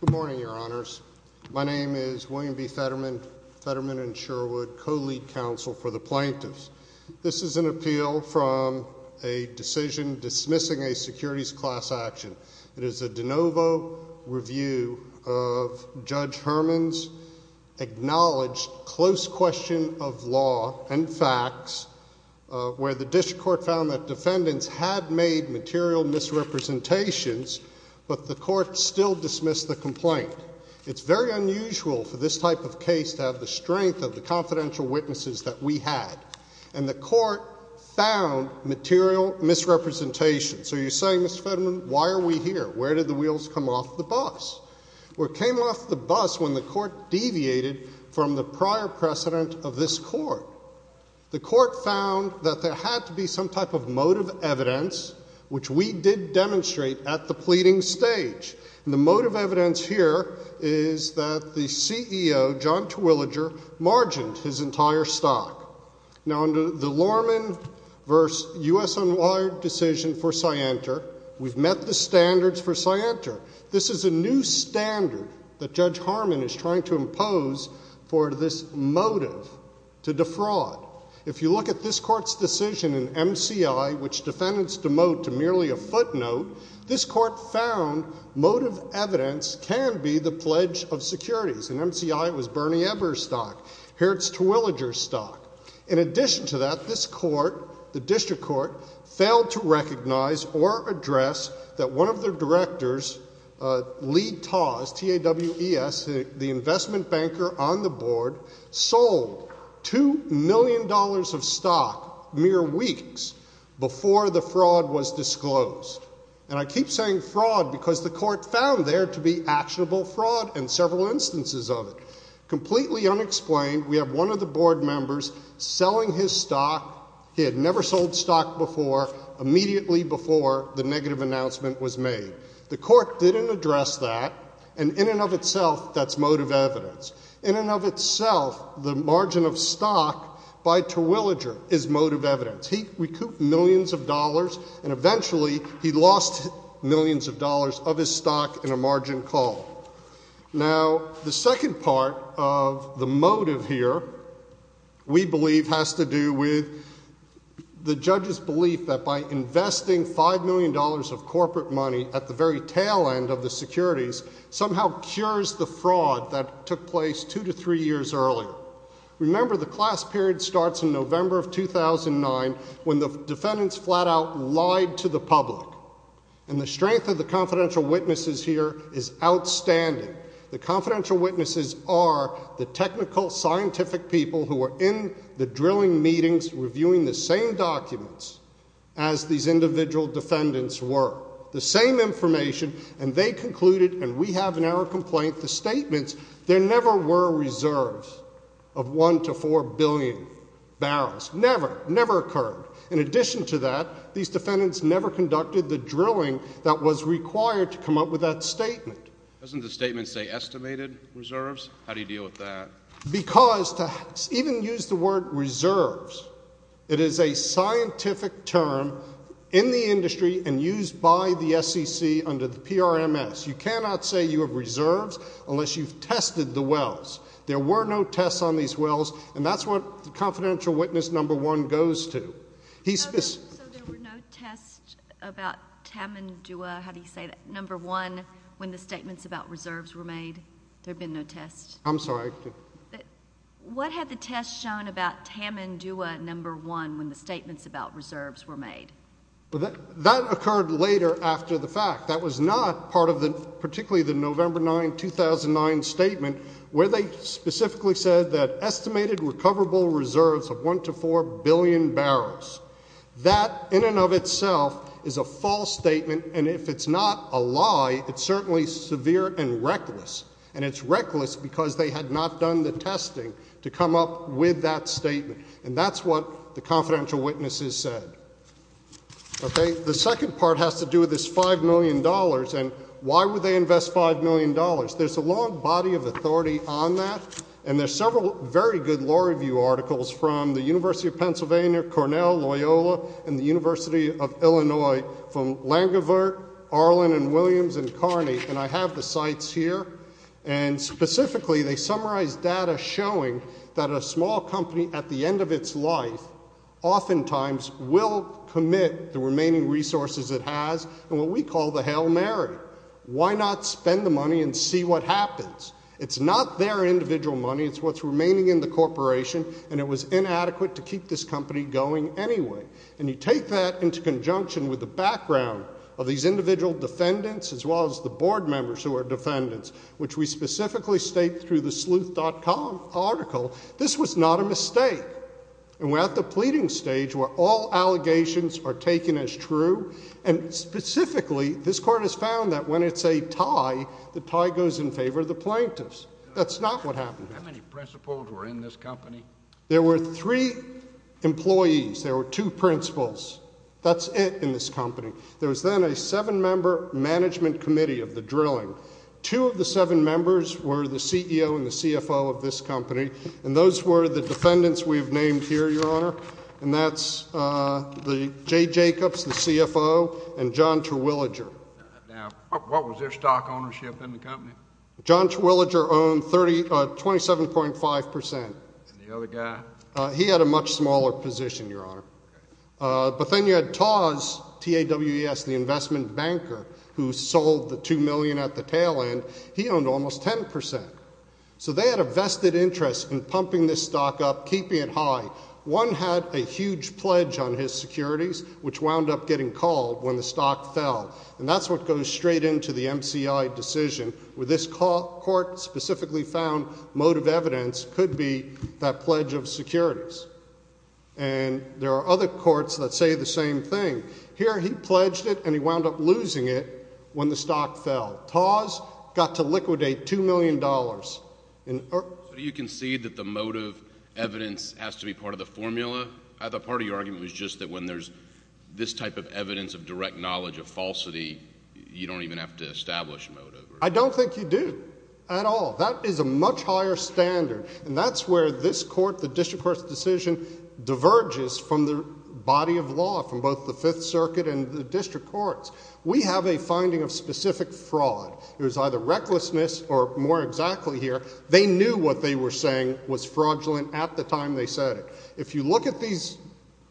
Good morning, your honors. My name is William B. Fetterman, Fetterman and Sherwood, co-lead counsel for the plaintiffs. This is an appeal from a decision dismissing a securities class action. It is a de novo review of Judge Herman's acknowledged close question of law and facts, where the district court found that defendants had made material misrepresentations, but the court still dismissed the complaint. It's very unusual for this type of case to have the strength of the confidential witnesses that we had, and the court found material misrepresentations. So you're saying, Mr. Fetterman, why are we here? Where did the wheels come off the bus? Well, it came off the bus when the court deviated from the prior precedent of this court. The court found that there had to be some type of motive evidence, which we did demonstrate at the pleading stage. And the motive evidence here is that the CEO, John Terwilliger, margined his entire stock. Now, under the Lorman v. U.S. Unwired decision for Scienter, we've met the standards for Scienter. This is a new standard that Judge Herman is trying to impose for this motive to defraud. If you look at this court's decision in MCI, which defendants demote to merely a footnote, this court found motive evidence can be the pledge of securities. In MCI it was Bernie Eberstock. Here it's Terwilliger's stock. In addition to that, this court, the district court, failed to recognize or address that one of their directors, Lee Tawes, T-A-W-E-S, the investment banker on the board, sold $2 million of stock mere weeks before the fraud was disclosed. And I keep saying fraud because the court found there to be actionable fraud and several instances of it. Completely unexplained, we have one of the board members selling his stock. He had never sold stock before, immediately before the negative announcement was made. The court didn't address that, and in and of itself, that's motive evidence. In and of itself, the margin of stock by Terwilliger is motive evidence. He recouped millions of dollars, and eventually he lost millions of dollars of his stock in a margin call. Now, the second part of the motive here, we believe, has to do with the judge's belief that by investing $5 million of corporate money at the very tail end of the securities, somehow cures the fraud that took place two to three years earlier. Remember, the class period starts in November of 2009, when the defendants flat out lied to the public. And the strength of the confidential witnesses here is outstanding. The confidential witnesses are the technical, scientific people who are in the drilling meetings, reviewing the same documents as these individual defendants were. The same information, and they concluded, and we have in our complaint the statements, there never were reserves of one to four billion barrels. Never, never occurred. In addition to that, these defendants never conducted the drilling that was required to come up with that statement. Doesn't the statement say estimated reserves? How do you deal with that? Because to even use the word reserves, it is a scientific term in the industry and used by the SEC under the PRMS. You cannot say you have reserves unless you've tested the wells. There were no tests on these wells, and that's what the confidential witness number one goes to. So there were no tests about Tamandua, how do you say that, number one, when the statements about reserves were made? There have been no tests? I'm sorry? What had the test shown about Tamandua number one when the statements about reserves were made? That occurred later after the fact. That was not part of particularly the November 9, 2009 statement where they specifically said that estimated recoverable reserves of one to four billion barrels. That in and of itself is a false statement, and if it's not a lie, it's certainly severe and reckless, and it's reckless because they had not done the testing to come up with that statement, and that's what the confidential witnesses said. Okay. The second part has to do with this $5 million, and why would they invest $5 million? There's a long body of authority on that, and there's several very good law review articles from the University of Pennsylvania, Cornell, Loyola, and the University of Illinois from Langevoort, Arlen, and Williams, and Carney, and I have the sites here, and specifically they summarize data showing that a small company at the end of its life oftentimes will commit the remaining resources it has in what we call the Hail Mary. Why not spend the money and see what happens? It's not their individual money. It's what's remaining in the corporation, and it was inadequate to keep this company going anyway, and you take that into conjunction with the background of these individual defendants as well as the board members who are defendants, which we specifically state through the sleuth.com article, this was not a mistake, and we're at the pleading stage where all allegations are taken as true, and specifically this court has found that when it's a tie, the tie goes in favor of the plaintiffs. That's not what happened here. How many principals were in this company? There were three employees. There were two principals. That's it in this company. There was then a seven-member management committee of the drilling. Two of the seven members were the CEO and the CFO of this company, and those were the defendants we've named here, Your Honor, and that's Jay Jacobs, the CFO, and John Terwilliger. Now, what was their stock ownership in the company? John Terwilliger owned 27.5%. And the other guy? He had a much smaller position, Your Honor. But then you had Taws, T-A-W-E-S, the investment banker who sold the $2 million at the tail end. He owned almost 10%. So they had a vested interest in pumping this stock up, keeping it high. One had a huge pledge on his securities, which wound up getting called when the stock fell, and that's what goes straight into the MCI decision, where this court specifically found motive evidence could be that pledge of securities. And there are other courts that say the same thing. Here he pledged it, and he wound up losing it when the stock fell. Taws got to liquidate $2 million. So do you concede that the motive evidence has to be part of the formula? I thought part of your argument was just that when there's this type of evidence of direct knowledge of falsity, you don't even have to establish motive. I don't think you do at all. That is a much higher standard, and that's where this court, the district court's decision, diverges from the body of law from both the Fifth Circuit and the district courts. We have a finding of specific fraud. It was either recklessness or, more exactly here, they knew what they were saying was fraudulent at the time they said it. If you look at these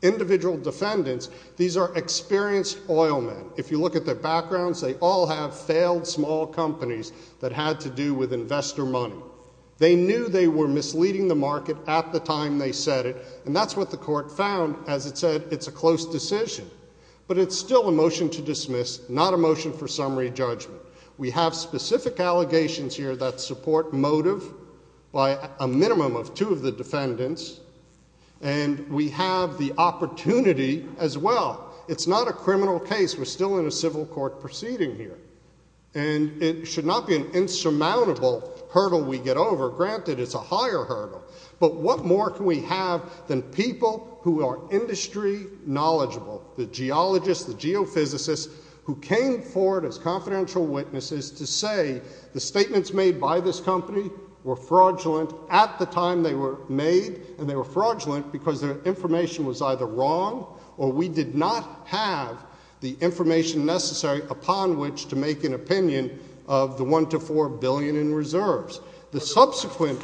individual defendants, these are experienced oil men. If you look at their backgrounds, they all have failed small companies that had to do with investor money. They knew they were misleading the market at the time they said it, and that's what the court found as it said it's a close decision. But it's still a motion to dismiss, not a motion for summary judgment. We have specific allegations here that support motive by a minimum of two of the defendants, and we have the opportunity as well. It's not a criminal case. We're still in a civil court proceeding here, and it should not be an insurmountable hurdle we get over. Granted, it's a higher hurdle, but what more can we have than people who are industry knowledgeable, the geologists, the geophysicists who came forward as confidential witnesses to say the statements made by this company were fraudulent at the time they were made, and they were fraudulent because their information was either wrong or we did not have the information necessary upon which to make an opinion of the $1 to $4 billion in reserves. The subsequent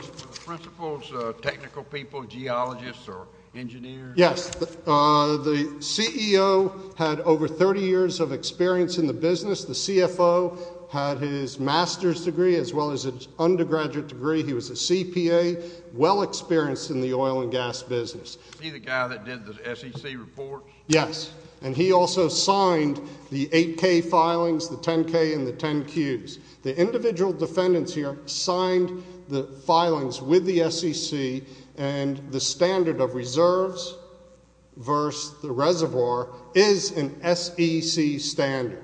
principles, technical people, geologists or engineers? Yes. The CEO had over 30 years of experience in the business. The CFO had his master's degree as well as his undergraduate degree. He was a CPA, well experienced in the oil and gas business. Is he the guy that did the SEC report? Yes, and he also signed the 8K filings, the 10K and the 10Qs. The individual defendants here signed the filings with the SEC, and the standard of reserves versus the reservoir is an SEC standard.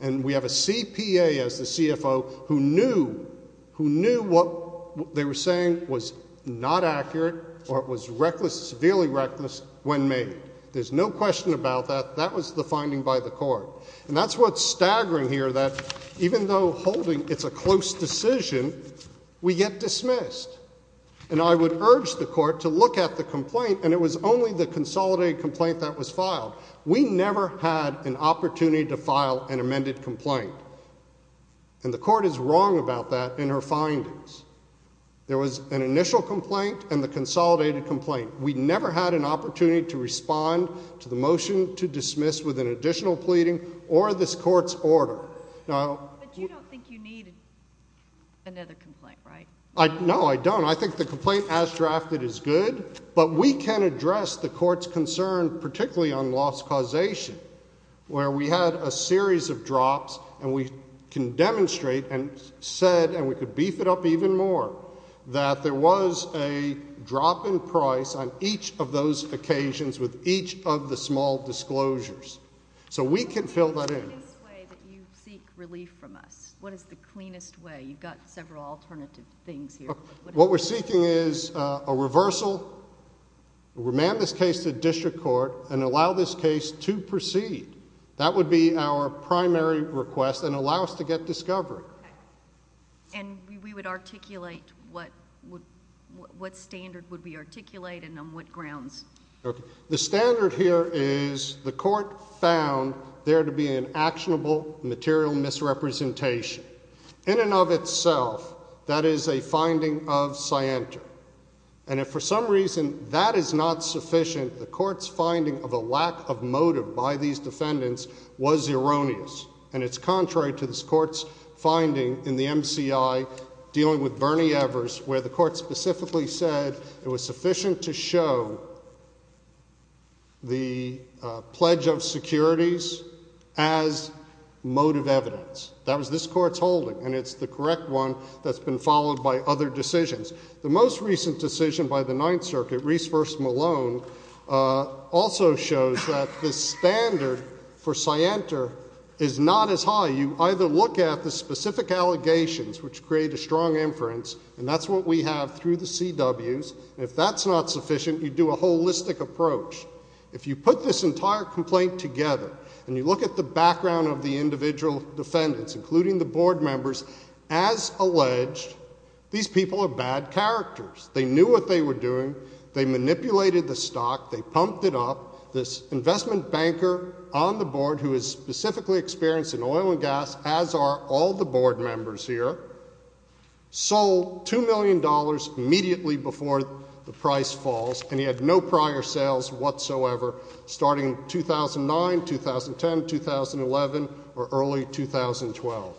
And we have a CPA as the CFO who knew what they were saying was not accurate or it was reckless, severely reckless when made. There's no question about that. That was the finding by the court. And that's what's staggering here, that even though holding it's a close decision, we get dismissed. And I would urge the court to look at the complaint, and it was only the consolidated complaint that was filed. We never had an opportunity to file an amended complaint, and the court is wrong about that in her findings. There was an initial complaint and the consolidated complaint. We never had an opportunity to respond to the motion to dismiss with an additional pleading or this court's order. But you don't think you need another complaint, right? No, I don't. I think the complaint as drafted is good, but we can address the court's concern, particularly on loss causation, where we had a series of drops, and we can demonstrate and said, and we could beef it up even more, that there was a drop in price on each of those occasions with each of the small disclosures. So we can fill that in. What is the cleanest way that you seek relief from us? What is the cleanest way? You've got several alternative things here. What we're seeking is a reversal. We'll remand this case to district court and allow this case to proceed. That would be our primary request and allow us to get discovery. And we would articulate what standard would we articulate and on what grounds? The standard here is the court found there to be an actionable material misrepresentation. In and of itself, that is a finding of scienter. And if for some reason that is not sufficient, the court's finding of a lack of motive by these defendants was erroneous. And it's contrary to this court's finding in the MCI dealing with Bernie Evers, where the court specifically said it was sufficient to show the pledge of securities as motive evidence. That was this court's holding, and it's the correct one that's been followed by other decisions. The most recent decision by the Ninth Circuit, Reese v. Malone, also shows that the standard for scienter is not as high. You either look at the specific allegations, which create a strong inference, and that's what we have through the CWs. And if that's not sufficient, you do a holistic approach. If you put this entire complaint together and you look at the background of the individual defendants, including the board members, as alleged, these people are bad characters. They knew what they were doing. They manipulated the stock. They pumped it up. This investment banker on the board who is specifically experienced in oil and gas, as are all the board members here, sold $2 million immediately before the price falls, and he had no prior sales whatsoever starting 2009, 2010, 2011, or early 2012.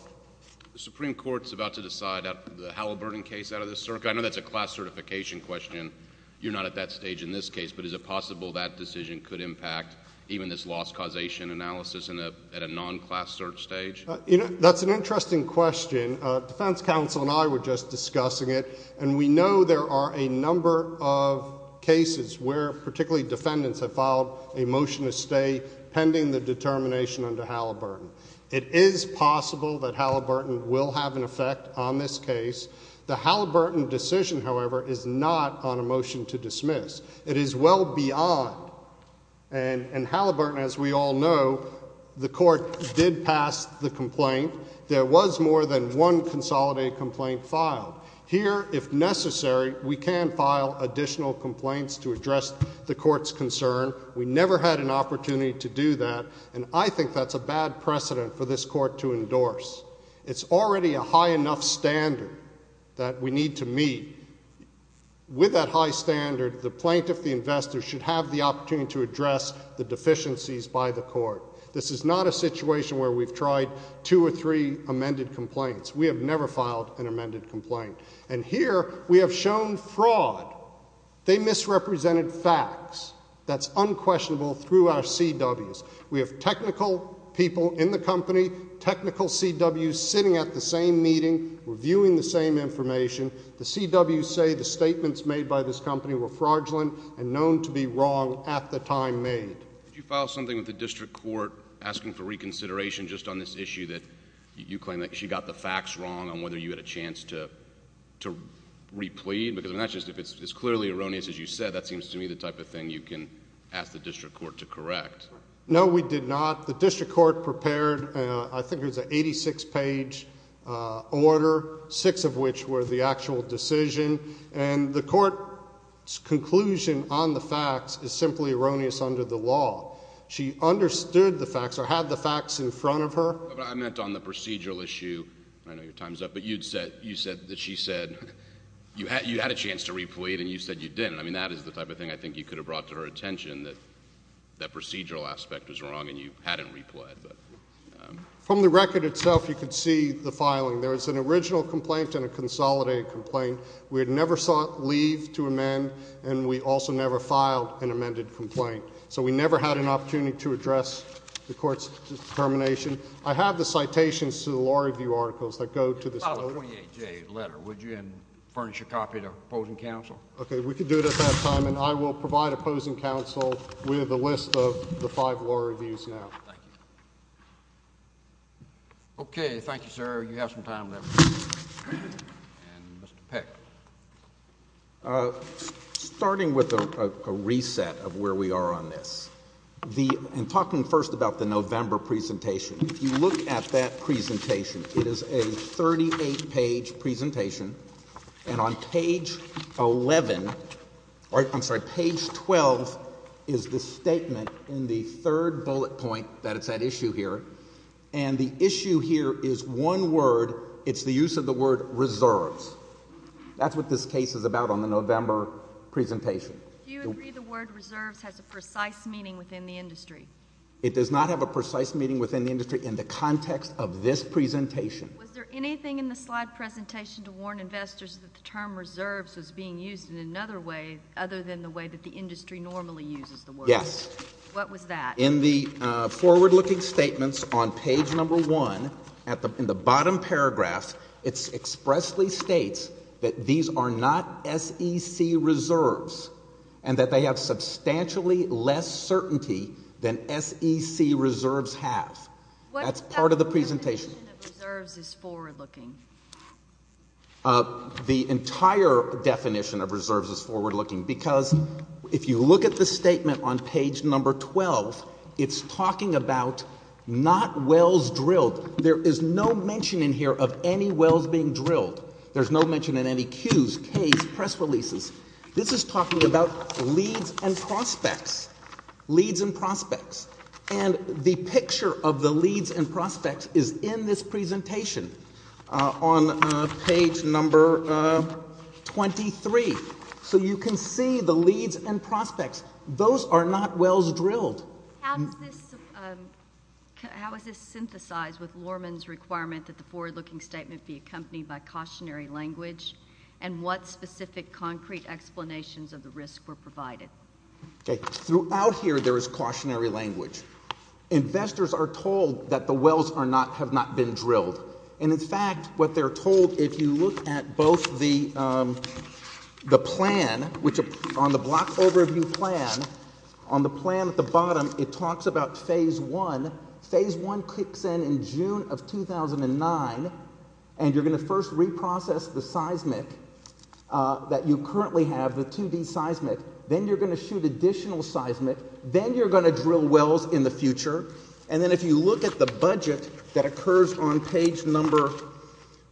The Supreme Court is about to decide the Halliburton case out of this circuit. I know that's a class certification question. You're not at that stage in this case, but is it possible that decision could impact even this loss causation analysis at a non-class search stage? That's an interesting question. Defense counsel and I were just discussing it, and we know there are a number of cases where particularly defendants have filed a motion to stay pending the determination under Halliburton. It is possible that Halliburton will have an effect on this case. The Halliburton decision, however, is not on a motion to dismiss. It is well beyond, and Halliburton, as we all know, the court did pass the complaint. There was more than one consolidated complaint filed. Here, if necessary, we can file additional complaints to address the court's concern. We never had an opportunity to do that, and I think that's a bad precedent for this court to endorse. It's already a high enough standard that we need to meet. With that high standard, the plaintiff, the investor, should have the opportunity to address the deficiencies by the court. This is not a situation where we've tried two or three amended complaints. We have never filed an amended complaint. And here, we have shown fraud. They misrepresented facts. That's unquestionable through our CWs. We have technical people in the company, technical CWs sitting at the same meeting reviewing the same information. The CWs say the statements made by this company were fraudulent and known to be wrong at the time made. Did you file something with the district court asking for reconsideration just on this issue that you claim that she got the facts wrong on whether you had a chance to replead? Because if it's clearly erroneous, as you said, that seems to me the type of thing you can ask the district court to correct. No, we did not. The district court prepared, I think it was an 86-page order, six of which were the actual decision. And the court's conclusion on the facts is simply erroneous under the law. She understood the facts or had the facts in front of her. I meant on the procedural issue. I know your time's up, but you said that she said you had a chance to replead and you said you didn't. I mean, that is the type of thing I think you could have brought to her attention, that that procedural aspect was wrong and you hadn't replead. From the record itself, you could see the filing. There was an original complaint and a consolidated complaint. We had never sought leave to amend, and we also never filed an amended complaint. So we never had an opportunity to address the court's determination. I have the citations to the law review articles that go to this letter. You could file a 28-J letter, would you, and furnish a copy to opposing counsel? Okay, we could do it at that time, and I will provide opposing counsel with a list of the five law reviews now. Thank you. Okay. Thank you, sir. You have some time left. And Mr. Peck. Starting with a reset of where we are on this, and talking first about the November presentation, if you look at that presentation, it is a 38-page presentation, and on page 11, I'm sorry, page 12 is the statement in the third bullet point that it's that issue here, and the issue here is one word. It's the use of the word reserves. That's what this case is about on the November presentation. Do you agree the word reserves has a precise meaning within the industry? It does not have a precise meaning within the industry in the context of this presentation. Was there anything in the slide presentation to warn investors that the term reserves is being used in another way other than the way that the industry normally uses the word? Yes. What was that? In the forward-looking statements on page number one, in the bottom paragraph, it expressly states that these are not SEC reserves, and that they have substantially less certainty than SEC reserves have. That's part of the presentation. What definition of reserves is forward-looking? The entire definition of reserves is forward-looking, because if you look at the statement on page number 12, it's talking about not wells drilled. There is no mention in here of any wells being drilled. There's no mention in any queues, caves, press releases. This is talking about leads and prospects, leads and prospects, and the picture of the leads and prospects is in this presentation. On page number 23. So you can see the leads and prospects. Those are not wells drilled. How is this synthesized with Lorman's requirement that the forward-looking statement be accompanied by cautionary language, and what specific concrete explanations of the risk were provided? Throughout here, there is cautionary language. Investors are told that the wells have not been drilled, and, in fact, what they're told, if you look at both the plan, which on the block overview plan, on the plan at the bottom, it talks about phase one. Phase one kicks in in June of 2009, and you're going to first reprocess the seismic that you currently have, the 2D seismic. Then you're going to shoot additional seismic. Then you're going to drill wells in the future, and then if you look at the budget that occurs on page number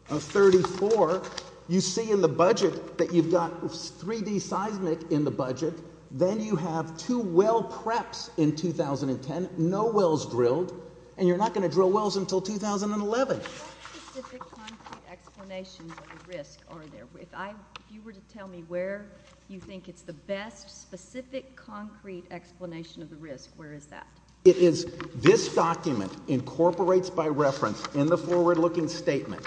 34, you see in the budget that you've got 3D seismic in the budget. Then you have two well preps in 2010, no wells drilled, and you're not going to drill wells until 2011. What specific concrete explanations of the risk are there? If you were to tell me where you think it's the best specific concrete explanation of the risk, where is that? It is this document incorporates by reference in the forward-looking statement.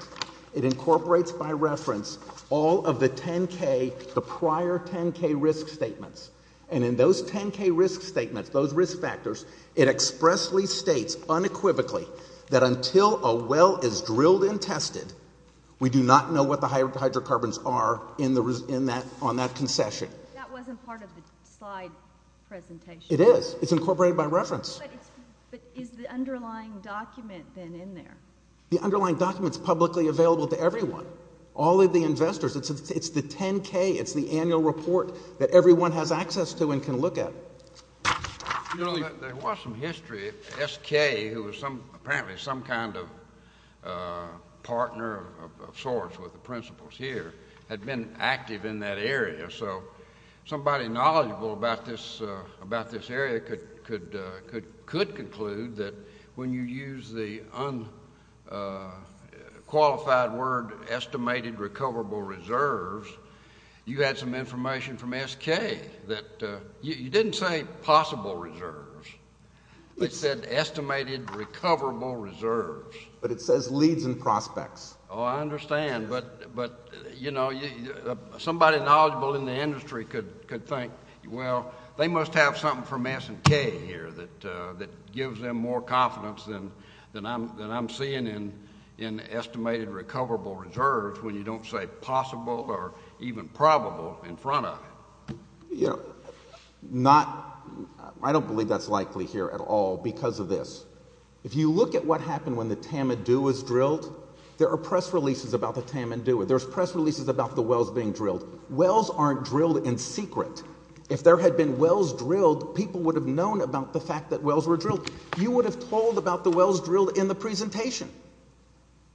It incorporates by reference all of the 10K, the prior 10K risk statements, and in those 10K risk statements, those risk factors, it expressly states unequivocally that until a well is drilled and tested, we do not know what the hydrocarbons are on that concession. That wasn't part of the slide presentation. It is. It's incorporated by reference. But is the underlying document then in there? The underlying document is publicly available to everyone, all of the investors. It's the 10K. It's the annual report that everyone has access to and can look at. There was some history. SK, who was apparently some kind of partner of sorts with the principals here, had been active in that area. So somebody knowledgeable about this area could conclude that when you use the unqualified word, estimated recoverable reserves, you had some information from SK that you didn't say possible reserves. It said estimated recoverable reserves. But it says leads and prospects. Oh, I understand. But, you know, somebody knowledgeable in the industry could think, well, they must have something from SK here that gives them more confidence than I'm seeing in estimated recoverable reserves when you don't say possible or even probable in front of it. You know, I don't believe that's likely here at all because of this. If you look at what happened when the Tamandu was drilled, there are press releases about the Tamandu. There's press releases about the wells being drilled. Wells aren't drilled in secret. If there had been wells drilled, people would have known about the fact that wells were drilled. You would have told about the wells drilled in the presentation.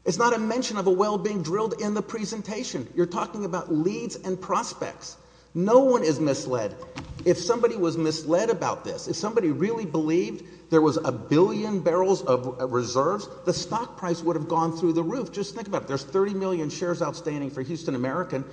It's not a mention of a well being drilled in the presentation. You're talking about leads and prospects. No one is misled. If somebody was misled about this, if somebody really believed there was a billion barrels of reserves, the stock price would have gone through the roof. Just think about it. There's 30 million shares outstanding for Houston American.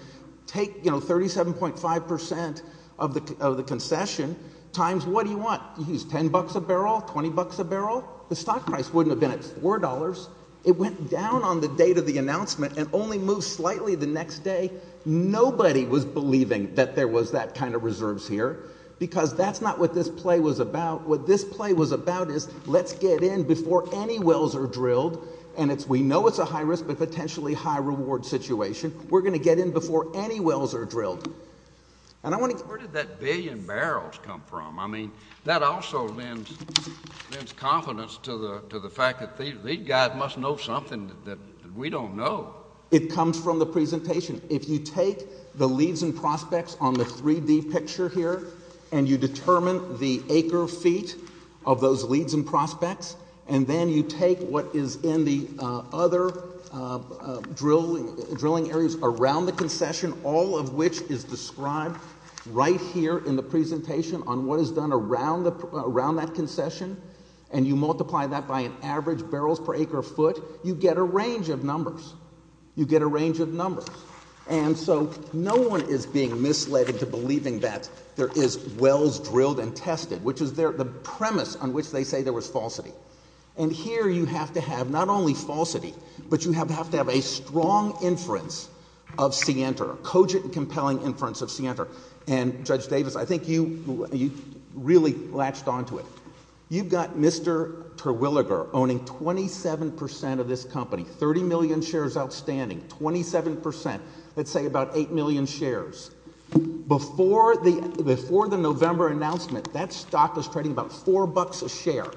Take, you know, 37.5 percent of the concession times what do you want? You use 10 bucks a barrel, 20 bucks a barrel. The stock price wouldn't have been at $4. It went down on the date of the announcement and only moved slightly the next day. Nobody was believing that there was that kind of reserves here because that's not what this play was about. What this play was about is let's get in before any wells are drilled, and we know it's a high-risk but potentially high-reward situation. We're going to get in before any wells are drilled. And I want to go back. Where did that billion barrels come from? I mean, that also lends confidence to the fact that these guys must know something that we don't know. It comes from the presentation. If you take the leads and prospects on the 3-D picture here and you determine the acre feet of those leads and prospects, and then you take what is in the other drilling areas around the concession, all of which is described right here in the presentation on what is done around that concession, and you multiply that by an average barrels per acre foot, you get a range of numbers. You get a range of numbers. And so no one is being misled into believing that there is wells drilled and tested, which is the premise on which they say there was falsity. And here you have to have not only falsity, but you have to have a strong inference of Sienter, a cogent and compelling inference of Sienter. And, Judge Davis, I think you really latched onto it. You've got Mr. Terwilliger owning 27 percent of this company, 30 million shares outstanding, 27 percent. Let's say about eight million shares. Before the November announcement, that stock was trading about four bucks a share,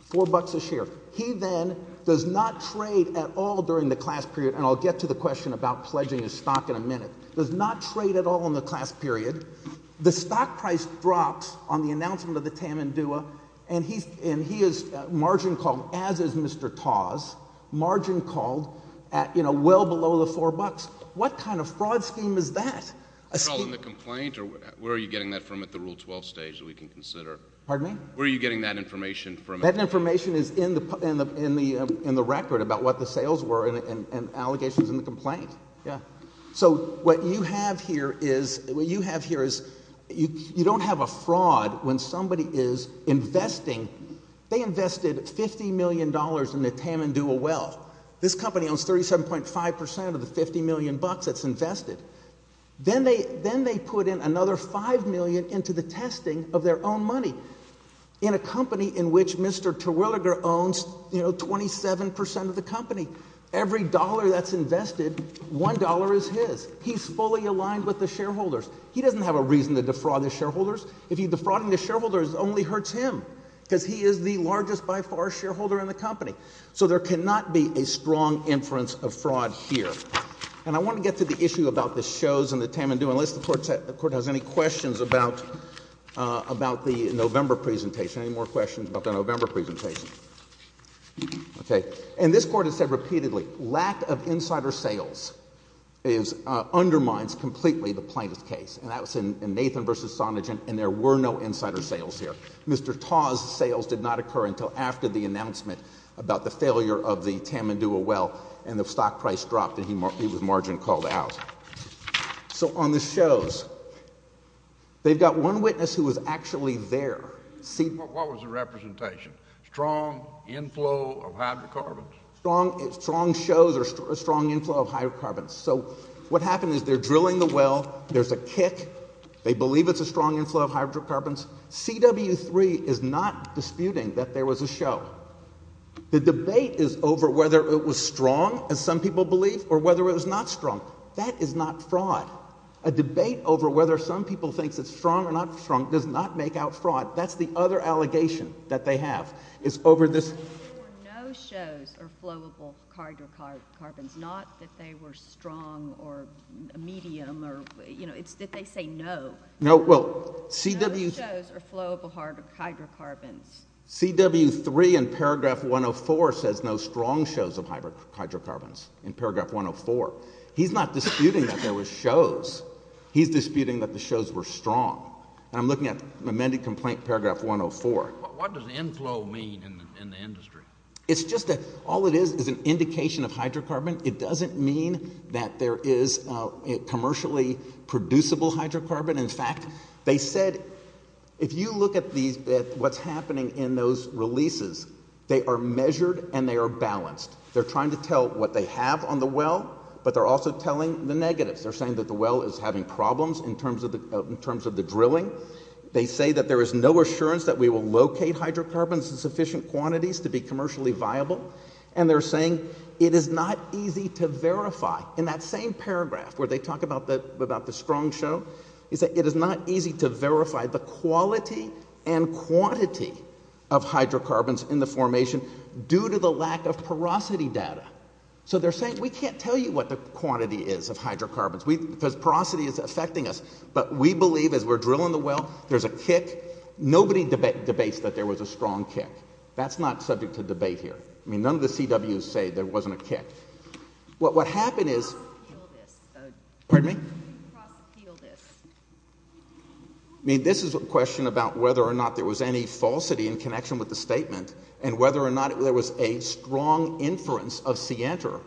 four bucks a share. He then does not trade at all during the class period, and I'll get to the question about pledging his stock in a minute, does not trade at all in the class period. The stock price drops on the announcement of the Tamandua, and he is margin called, as is Mr. Tawes, margin called at well below the four bucks. What kind of fraud scheme is that? Is that all in the complaint, or where are you getting that from at the Rule 12 stage that we can consider? Pardon me? Where are you getting that information from? That information is in the record about what the sales were and allegations in the complaint. So what you have here is you don't have a fraud when somebody is investing. They invested $50 million in the Tamandua Wealth. This company owns 37.5 percent of the 50 million bucks that's invested. Then they put in another five million into the testing of their own money in a company in which Mr. Terwilliger owns 27 percent of the company. Every dollar that's invested, one dollar is his. He's fully aligned with the shareholders. He doesn't have a reason to defraud the shareholders. If he's defrauding the shareholders, it only hurts him because he is the largest by far shareholder in the company. So there cannot be a strong inference of fraud here. And I want to get to the issue about the shows and the Tamandua unless the Court has any questions about the November presentation, any more questions about the November presentation. Okay. And this Court has said repeatedly, lack of insider sales undermines completely the plaintiff's case. And that was in Nathan v. Sonagen, and there were no insider sales there. Mr. Taw's sales did not occur until after the announcement about the failure of the Tamandua Wealth, and the stock price dropped, and he was margin called out. So on the shows, they've got one witness who was actually there. What was the representation? Strong inflow of hydrocarbons? Strong shows or strong inflow of hydrocarbons. So what happened is they're drilling the well. There's a kick. They believe it's a strong inflow of hydrocarbons. CW3 is not disputing that there was a show. The debate is over whether it was strong, as some people believe, or whether it was not strong. That is not fraud. A debate over whether some people think it's strong or not strong does not make out fraud. That's the other allegation that they have is over this. There were no shows of flowable hydrocarbons, not that they were strong or medium or, you know, it's that they say no. No, well, CW. No shows of flowable hydrocarbons. CW3 in paragraph 104 says no strong shows of hydrocarbons in paragraph 104. He's not disputing that there were shows. He's disputing that the shows were strong. And I'm looking at amended complaint paragraph 104. What does inflow mean in the industry? It's just that all it is is an indication of hydrocarbon. It doesn't mean that there is commercially producible hydrocarbon. In fact, they said if you look at what's happening in those releases, they are measured and they are balanced. They're trying to tell what they have on the well, but they're also telling the negatives. They're saying that the well is having problems in terms of the drilling. They say that there is no assurance that we will locate hydrocarbons in sufficient quantities to be commercially viable. And they're saying it is not easy to verify. In that same paragraph where they talk about the strong show, they say it is not easy to verify the quality and quantity of hydrocarbons in the formation due to the lack of porosity data. So they're saying we can't tell you what the quantity is of hydrocarbons because porosity is affecting us. But we believe as we're drilling the well, there's a kick. Nobody debates that there was a strong kick. That's not subject to debate here. I mean, none of the CWs say there wasn't a kick. What happened is— Cross-appeal this. Pardon me? Cross-appeal this. I mean, this is a question about whether or not there was any falsity in connection with the statement and whether or not there was a strong inference of scienter,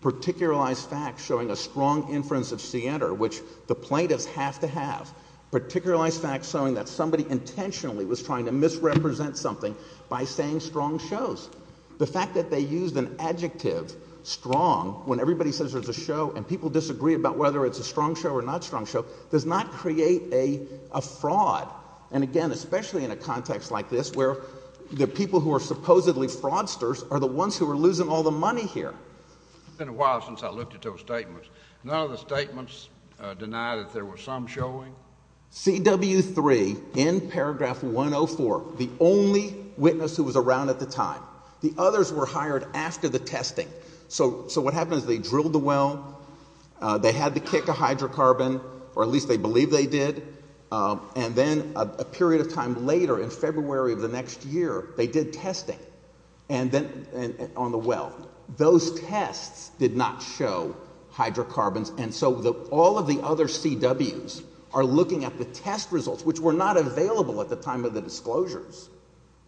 particularized facts showing a strong inference of scienter, which the plaintiffs have to have, particularized facts showing that somebody intentionally was trying to misrepresent something by saying strong shows. The fact that they used an adjective, strong, when everybody says there's a show and people disagree about whether it's a strong show or not a strong show does not create a fraud. And, again, especially in a context like this where the people who are supposedly fraudsters are the ones who are losing all the money here. It's been a while since I looked at those statements. None of the statements deny that there was some showing. CW3 in paragraph 104, the only witness who was around at the time, the others were hired after the testing. So what happened is they drilled the well. They had the kick of hydrocarbon, or at least they believe they did. And then a period of time later, in February of the next year, they did testing on the well. But those tests did not show hydrocarbons. And so all of the other CWs are looking at the test results, which were not available at the time of the disclosures.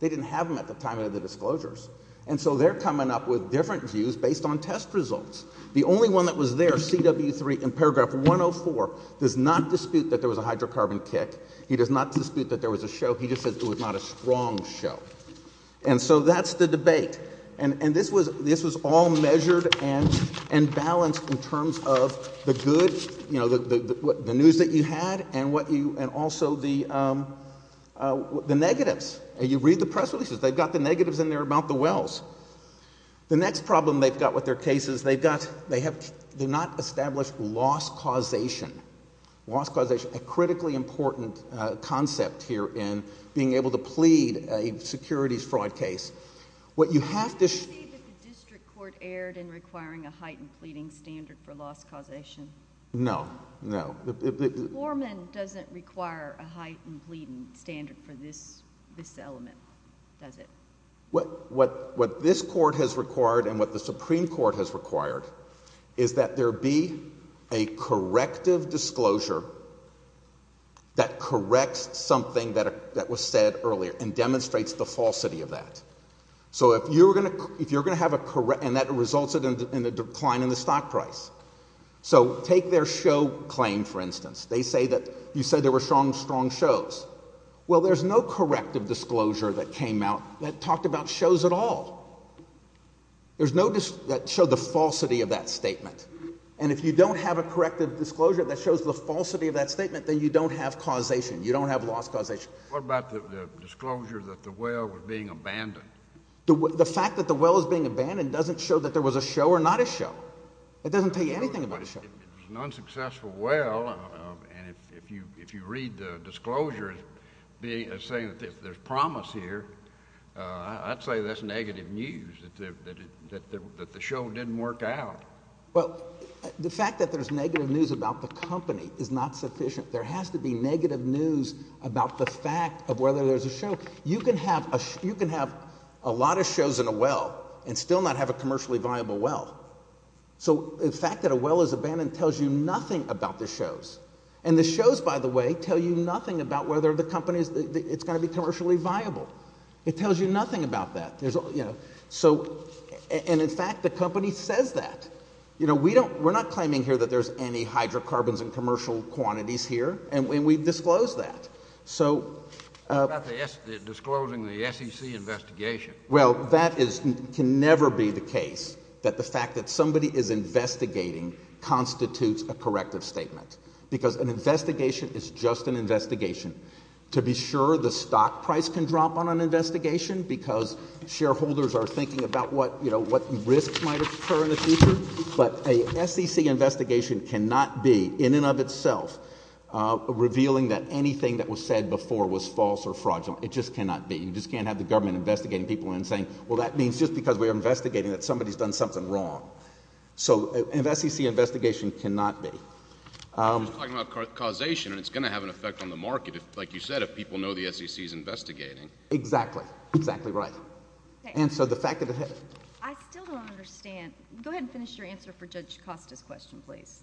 They didn't have them at the time of the disclosures. And so they're coming up with different views based on test results. The only one that was there, CW3 in paragraph 104, does not dispute that there was a hydrocarbon kick. He does not dispute that there was a show. He just said it was not a strong show. And so that's the debate. And this was all measured and balanced in terms of the good news that you had and also the negatives. You read the press releases. They've got the negatives in there about the wells. The next problem they've got with their case is they've not established loss causation. Loss causation, a critically important concept here in being able to plead a securities fraud case. Can you say that the district court erred in requiring a heightened pleading standard for loss causation? No, no. Foreman doesn't require a heightened pleading standard for this element, does it? What this court has required and what the Supreme Court has required is that there be a corrective disclosure that corrects something that was said earlier and demonstrates the falsity of that. So if you're going to have a—and that results in a decline in the stock price. So take their show claim, for instance. They say that you said there were strong shows. Well, there's no corrective disclosure that came out that talked about shows at all. There's no—that showed the falsity of that statement. And if you don't have a corrective disclosure that shows the falsity of that statement, then you don't have causation. You don't have loss causation. What about the disclosure that the well was being abandoned? The fact that the well is being abandoned doesn't show that there was a show or not a show. It doesn't tell you anything about a show. It was an unsuccessful well, and if you read the disclosure as saying that there's promise here, I'd say that's negative news, that the show didn't work out. Well, the fact that there's negative news about the company is not sufficient. There has to be negative news about the fact of whether there's a show. You can have a lot of shows in a well and still not have a commercially viable well. So the fact that a well is abandoned tells you nothing about the shows. And the shows, by the way, tell you nothing about whether the company is—it's going to be commercially viable. It tells you nothing about that. So—and, in fact, the company says that. We're not claiming here that there's any hydrocarbons in commercial quantities here, and we've disclosed that. So— What about disclosing the SEC investigation? Well, that can never be the case, that the fact that somebody is investigating constitutes a corrective statement because an investigation is just an investigation. To be sure, the stock price can drop on an investigation because shareholders are thinking about what risks might occur in the future. But a SEC investigation cannot be, in and of itself, revealing that anything that was said before was false or fraudulent. It just cannot be. You just can't have the government investigating people and saying, well, that means just because we're investigating that somebody's done something wrong. So an SEC investigation cannot be. You're talking about causation, and it's going to have an effect on the market, like you said, if people know the SEC is investigating. Exactly. Exactly right. And so the fact that— I still don't understand. Go ahead and finish your answer for Judge Costa's question, please.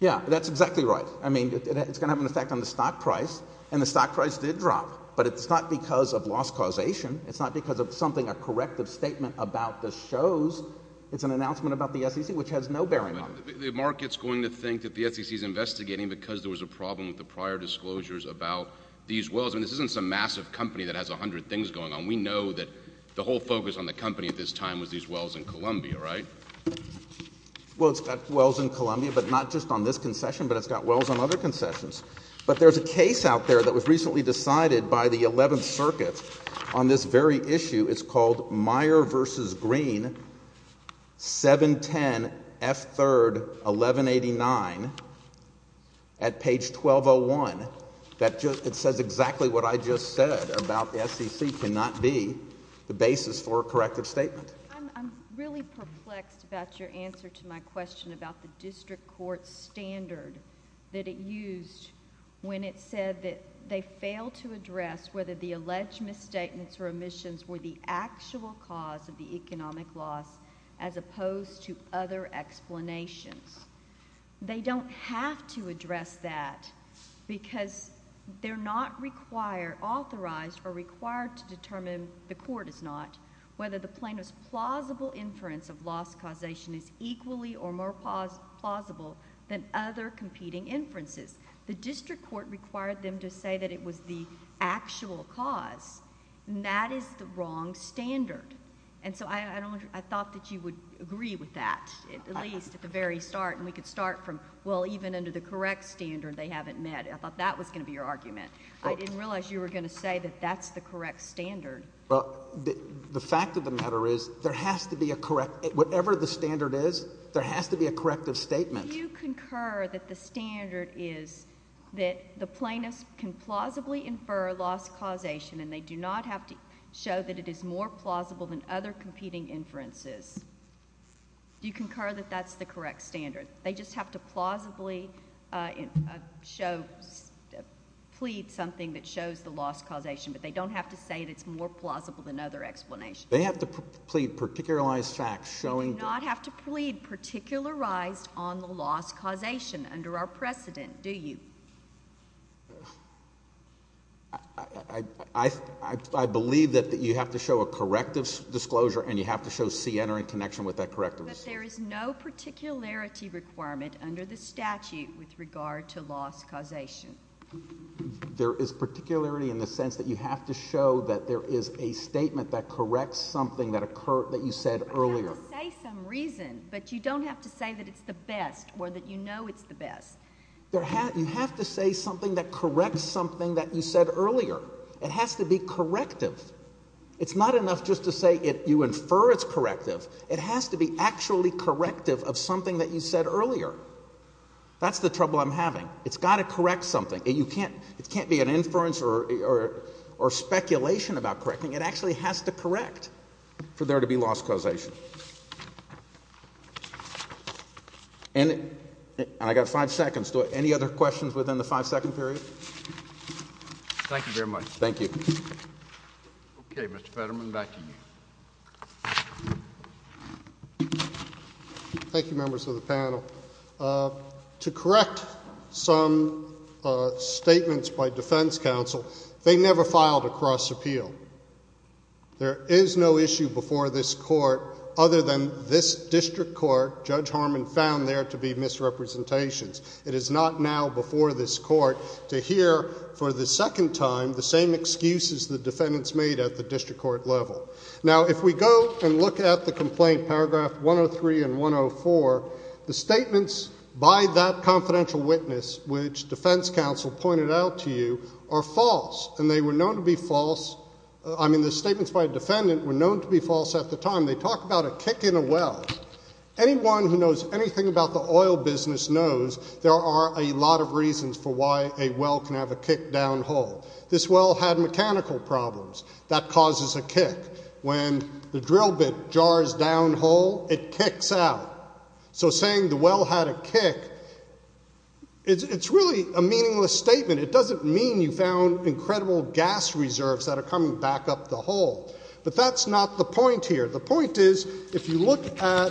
Yeah, that's exactly right. I mean, it's going to have an effect on the stock price, and the stock price did drop, but it's not because of lost causation. It's not because of something, a corrective statement about the shows. It's an announcement about the SEC, which has no bearing on it. The market's going to think that the SEC is investigating because there was a problem with the prior disclosures about these wells. I mean, this isn't some massive company that has a hundred things going on. We know that the whole focus on the company at this time was these wells in Columbia, right? Well, it's got wells in Columbia, but not just on this concession, but it's got wells on other concessions. But there's a case out there that was recently decided by the Eleventh Circuit on this very issue. It's called Meyer v. Green, 710 F. 3rd, 1189, at page 1201. It says exactly what I just said about the SEC cannot be the basis for a corrective statement. I'm really perplexed about your answer to my question about the district court standard that it used when it said that they failed to address whether the alleged misstatements or omissions were the actual cause of the economic loss as opposed to other explanations. They don't have to address that because they're not authorized or required to determine—the court is not—whether the plaintiff's plausible inference of loss causation is equally or more plausible than other competing inferences. The district court required them to say that it was the actual cause, and that is the wrong standard. And so I thought that you would agree with that at least at the very start, and we could start from, well, even under the correct standard, they haven't met. I thought that was going to be your argument. I didn't realize you were going to say that that's the correct standard. Well, the fact of the matter is there has to be a—whatever the standard is, there has to be a corrective statement. If you concur that the standard is that the plaintiff can plausibly infer loss causation and they do not have to show that it is more plausible than other competing inferences, do you concur that that's the correct standard? They just have to plausibly show—plead something that shows the loss causation, but they don't have to say that it's more plausible than other explanations. They have to plead particularized facts showing that— You do not have to plead particularized on the loss causation under our precedent, do you? I believe that you have to show a corrective disclosure and you have to show CNR in connection with that corrective disclosure. But there is no particularity requirement under the statute with regard to loss causation. There is particularity in the sense that you have to show that there is a statement that corrects something that you said earlier. You say some reason, but you don't have to say that it's the best or that you know it's the best. You have to say something that corrects something that you said earlier. It has to be corrective. It's not enough just to say you infer it's corrective. It has to be actually corrective of something that you said earlier. That's the trouble I'm having. It's got to correct something. It can't be an inference or speculation about correcting. It actually has to correct for there to be loss causation. And I've got five seconds. Any other questions within the five-second period? Thank you very much. Thank you. Okay, Mr. Fetterman, back to you. Thank you, members of the panel. To correct some statements by defense counsel, they never filed a cross appeal. There is no issue before this court other than this district court, Judge Harmon found there to be misrepresentations. It is not now before this court to hear for the second time the same excuses the defendants made at the district court level. Now, if we go and look at the complaint, paragraph 103 and 104, the statements by that confidential witness, which defense counsel pointed out to you, are false, and they were known to be false. I mean, the statements by a defendant were known to be false at the time. They talk about a kick in a well. Anyone who knows anything about the oil business knows there are a lot of reasons for why a well can have a kick down hole. This well had mechanical problems. That causes a kick. When the drill bit jars down hole, it kicks out. So saying the well had a kick, it's really a meaningless statement. It doesn't mean you found incredible gas reserves that are coming back up the hole. But that's not the point here. The point is if you look at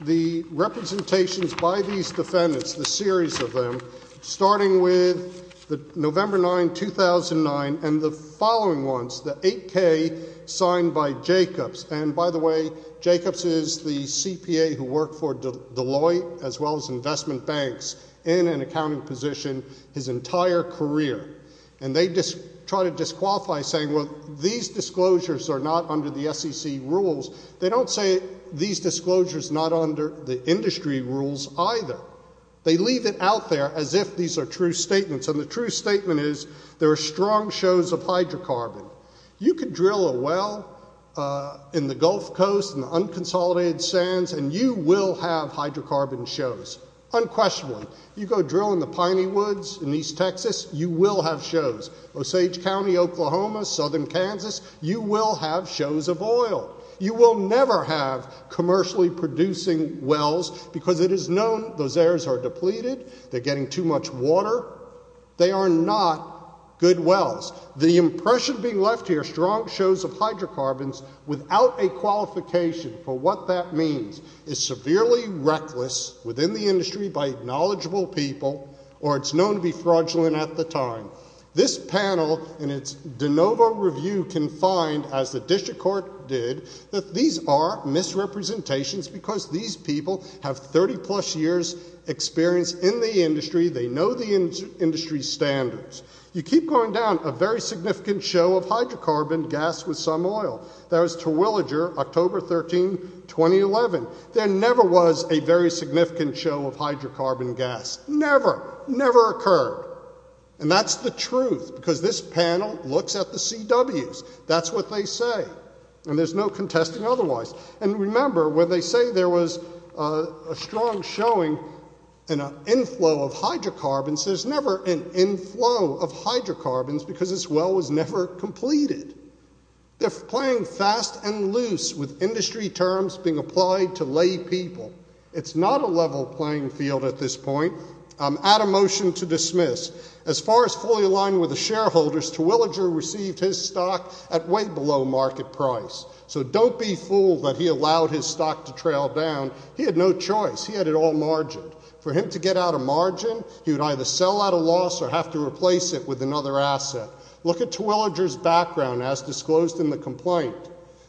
the representations by these defendants, the series of them, starting with November 9, 2009, and the following ones, the 8K signed by Jacobs. And, by the way, Jacobs is the CPA who worked for Deloitte as well as investment banks in an accounting position his entire career. And they try to disqualify saying, well, these disclosures are not under the SEC rules. They don't say these disclosures are not under the industry rules either. They leave it out there as if these are true statements. And the true statement is there are strong shows of hydrocarbon. You could drill a well in the Gulf Coast, in the unconsolidated sands, and you will have hydrocarbon shows, unquestionably. You go drill in the Piney Woods in East Texas, you will have shows. Osage County, Oklahoma, southern Kansas, you will have shows of oil. You will never have commercially producing wells because it is known those areas are depleted, they're getting too much water. They are not good wells. The impression being left here, strong shows of hydrocarbons, without a qualification for what that means, is severely reckless within the industry by knowledgeable people, or it's known to be fraudulent at the time. This panel, in its de novo review, can find, as the district court did, that these are misrepresentations because these people have 30-plus years' experience in the industry. They know the industry's standards. You keep going down, a very significant show of hydrocarbon gas with some oil. That was Terwilliger, October 13, 2011. There never was a very significant show of hydrocarbon gas. Never, never occurred. And that's the truth because this panel looks at the CWs. That's what they say. And there's no contesting otherwise. And remember, when they say there was a strong showing and an inflow of hydrocarbons, there's never an inflow of hydrocarbons because this well was never completed. They're playing fast and loose with industry terms being applied to lay people. It's not a level playing field at this point. Add a motion to dismiss. As far as fully aligned with the shareholders, Terwilliger received his stock at way below market price. So don't be fooled that he allowed his stock to trail down. He had no choice. He had it all margined. For him to get out of margin, he would either sell at a loss or have to replace it with another asset. Look at Terwilliger's background as disclosed in the complaint.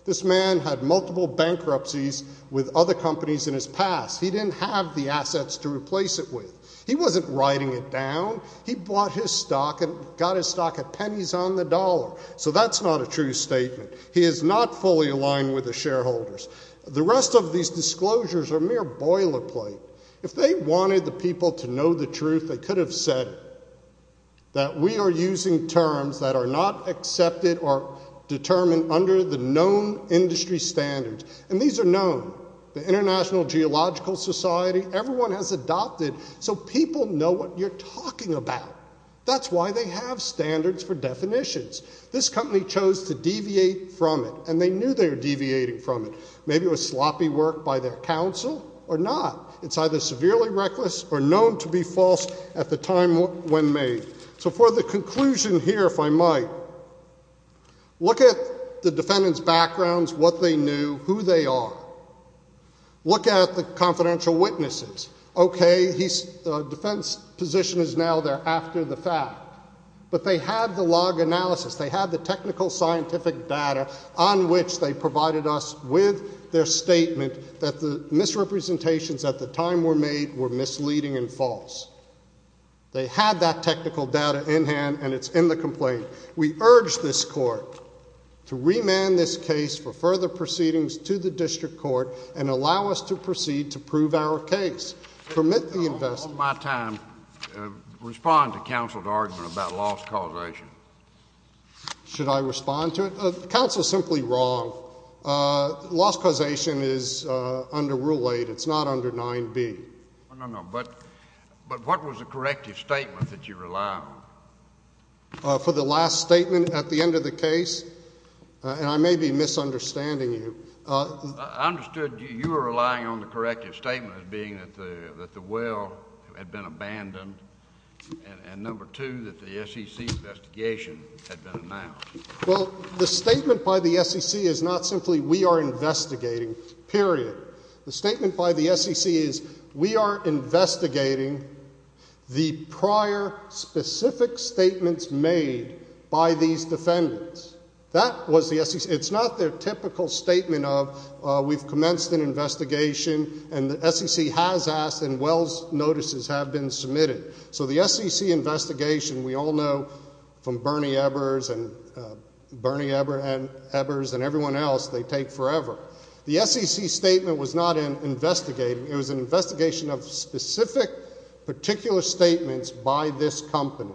This man had multiple bankruptcies with other companies in his past. He didn't have the assets to replace it with. He wasn't writing it down. He bought his stock and got his stock at pennies on the dollar. So that's not a true statement. He is not fully aligned with the shareholders. The rest of these disclosures are mere boilerplate. If they wanted the people to know the truth, they could have said that we are using terms that are not accepted or determined under the known industry standards. And these are known. The International Geological Society, everyone has adopted. So people know what you're talking about. That's why they have standards for definitions. This company chose to deviate from it, and they knew they were deviating from it. Maybe it was sloppy work by their counsel or not. It's either severely reckless or known to be false at the time when made. So for the conclusion here, if I might, look at the defendant's backgrounds, what they knew, who they are. Look at the confidential witnesses. Okay, defense position is now there after the fact. But they have the log analysis. They have the technical scientific data on which they provided us with their statement that the misrepresentations at the time were made were misleading and false. They had that technical data in hand, and it's in the complaint. We urge this court to remand this case for further proceedings to the district court and allow us to proceed to prove our case. Permit the investigation. I want my time to respond to counsel's argument about loss causation. Should I respond to it? Counsel is simply wrong. Loss causation is under Rule 8. It's not under 9B. No, no, no. But what was the corrective statement that you rely on? For the last statement at the end of the case? And I may be misunderstanding you. I understood you were relying on the corrective statement as being that the well had been abandoned and, number two, that the SEC investigation had been announced. Well, the statement by the SEC is not simply we are investigating, period. The statement by the SEC is we are investigating the prior specific statements made by these defendants. That was the SEC. It's not their typical statement of we've commenced an investigation and the SEC has asked and well's notices have been submitted. So the SEC investigation, we all know from Bernie Ebers and everyone else, they take forever. The SEC statement was not investigating. It was an investigation of specific particular statements by this company.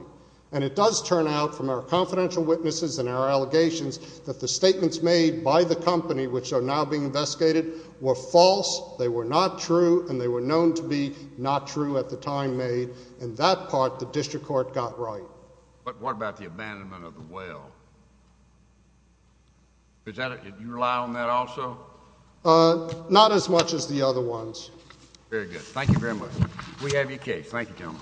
And it does turn out from our confidential witnesses and our allegations that the statements made by the company, which are now being investigated, were false, they were not true, and they were known to be not true at the time made. And that part the district court got right. But what about the abandonment of the well? Do you rely on that also? Not as much as the other ones. Very good. Thank you very much. Thank you, gentlemen.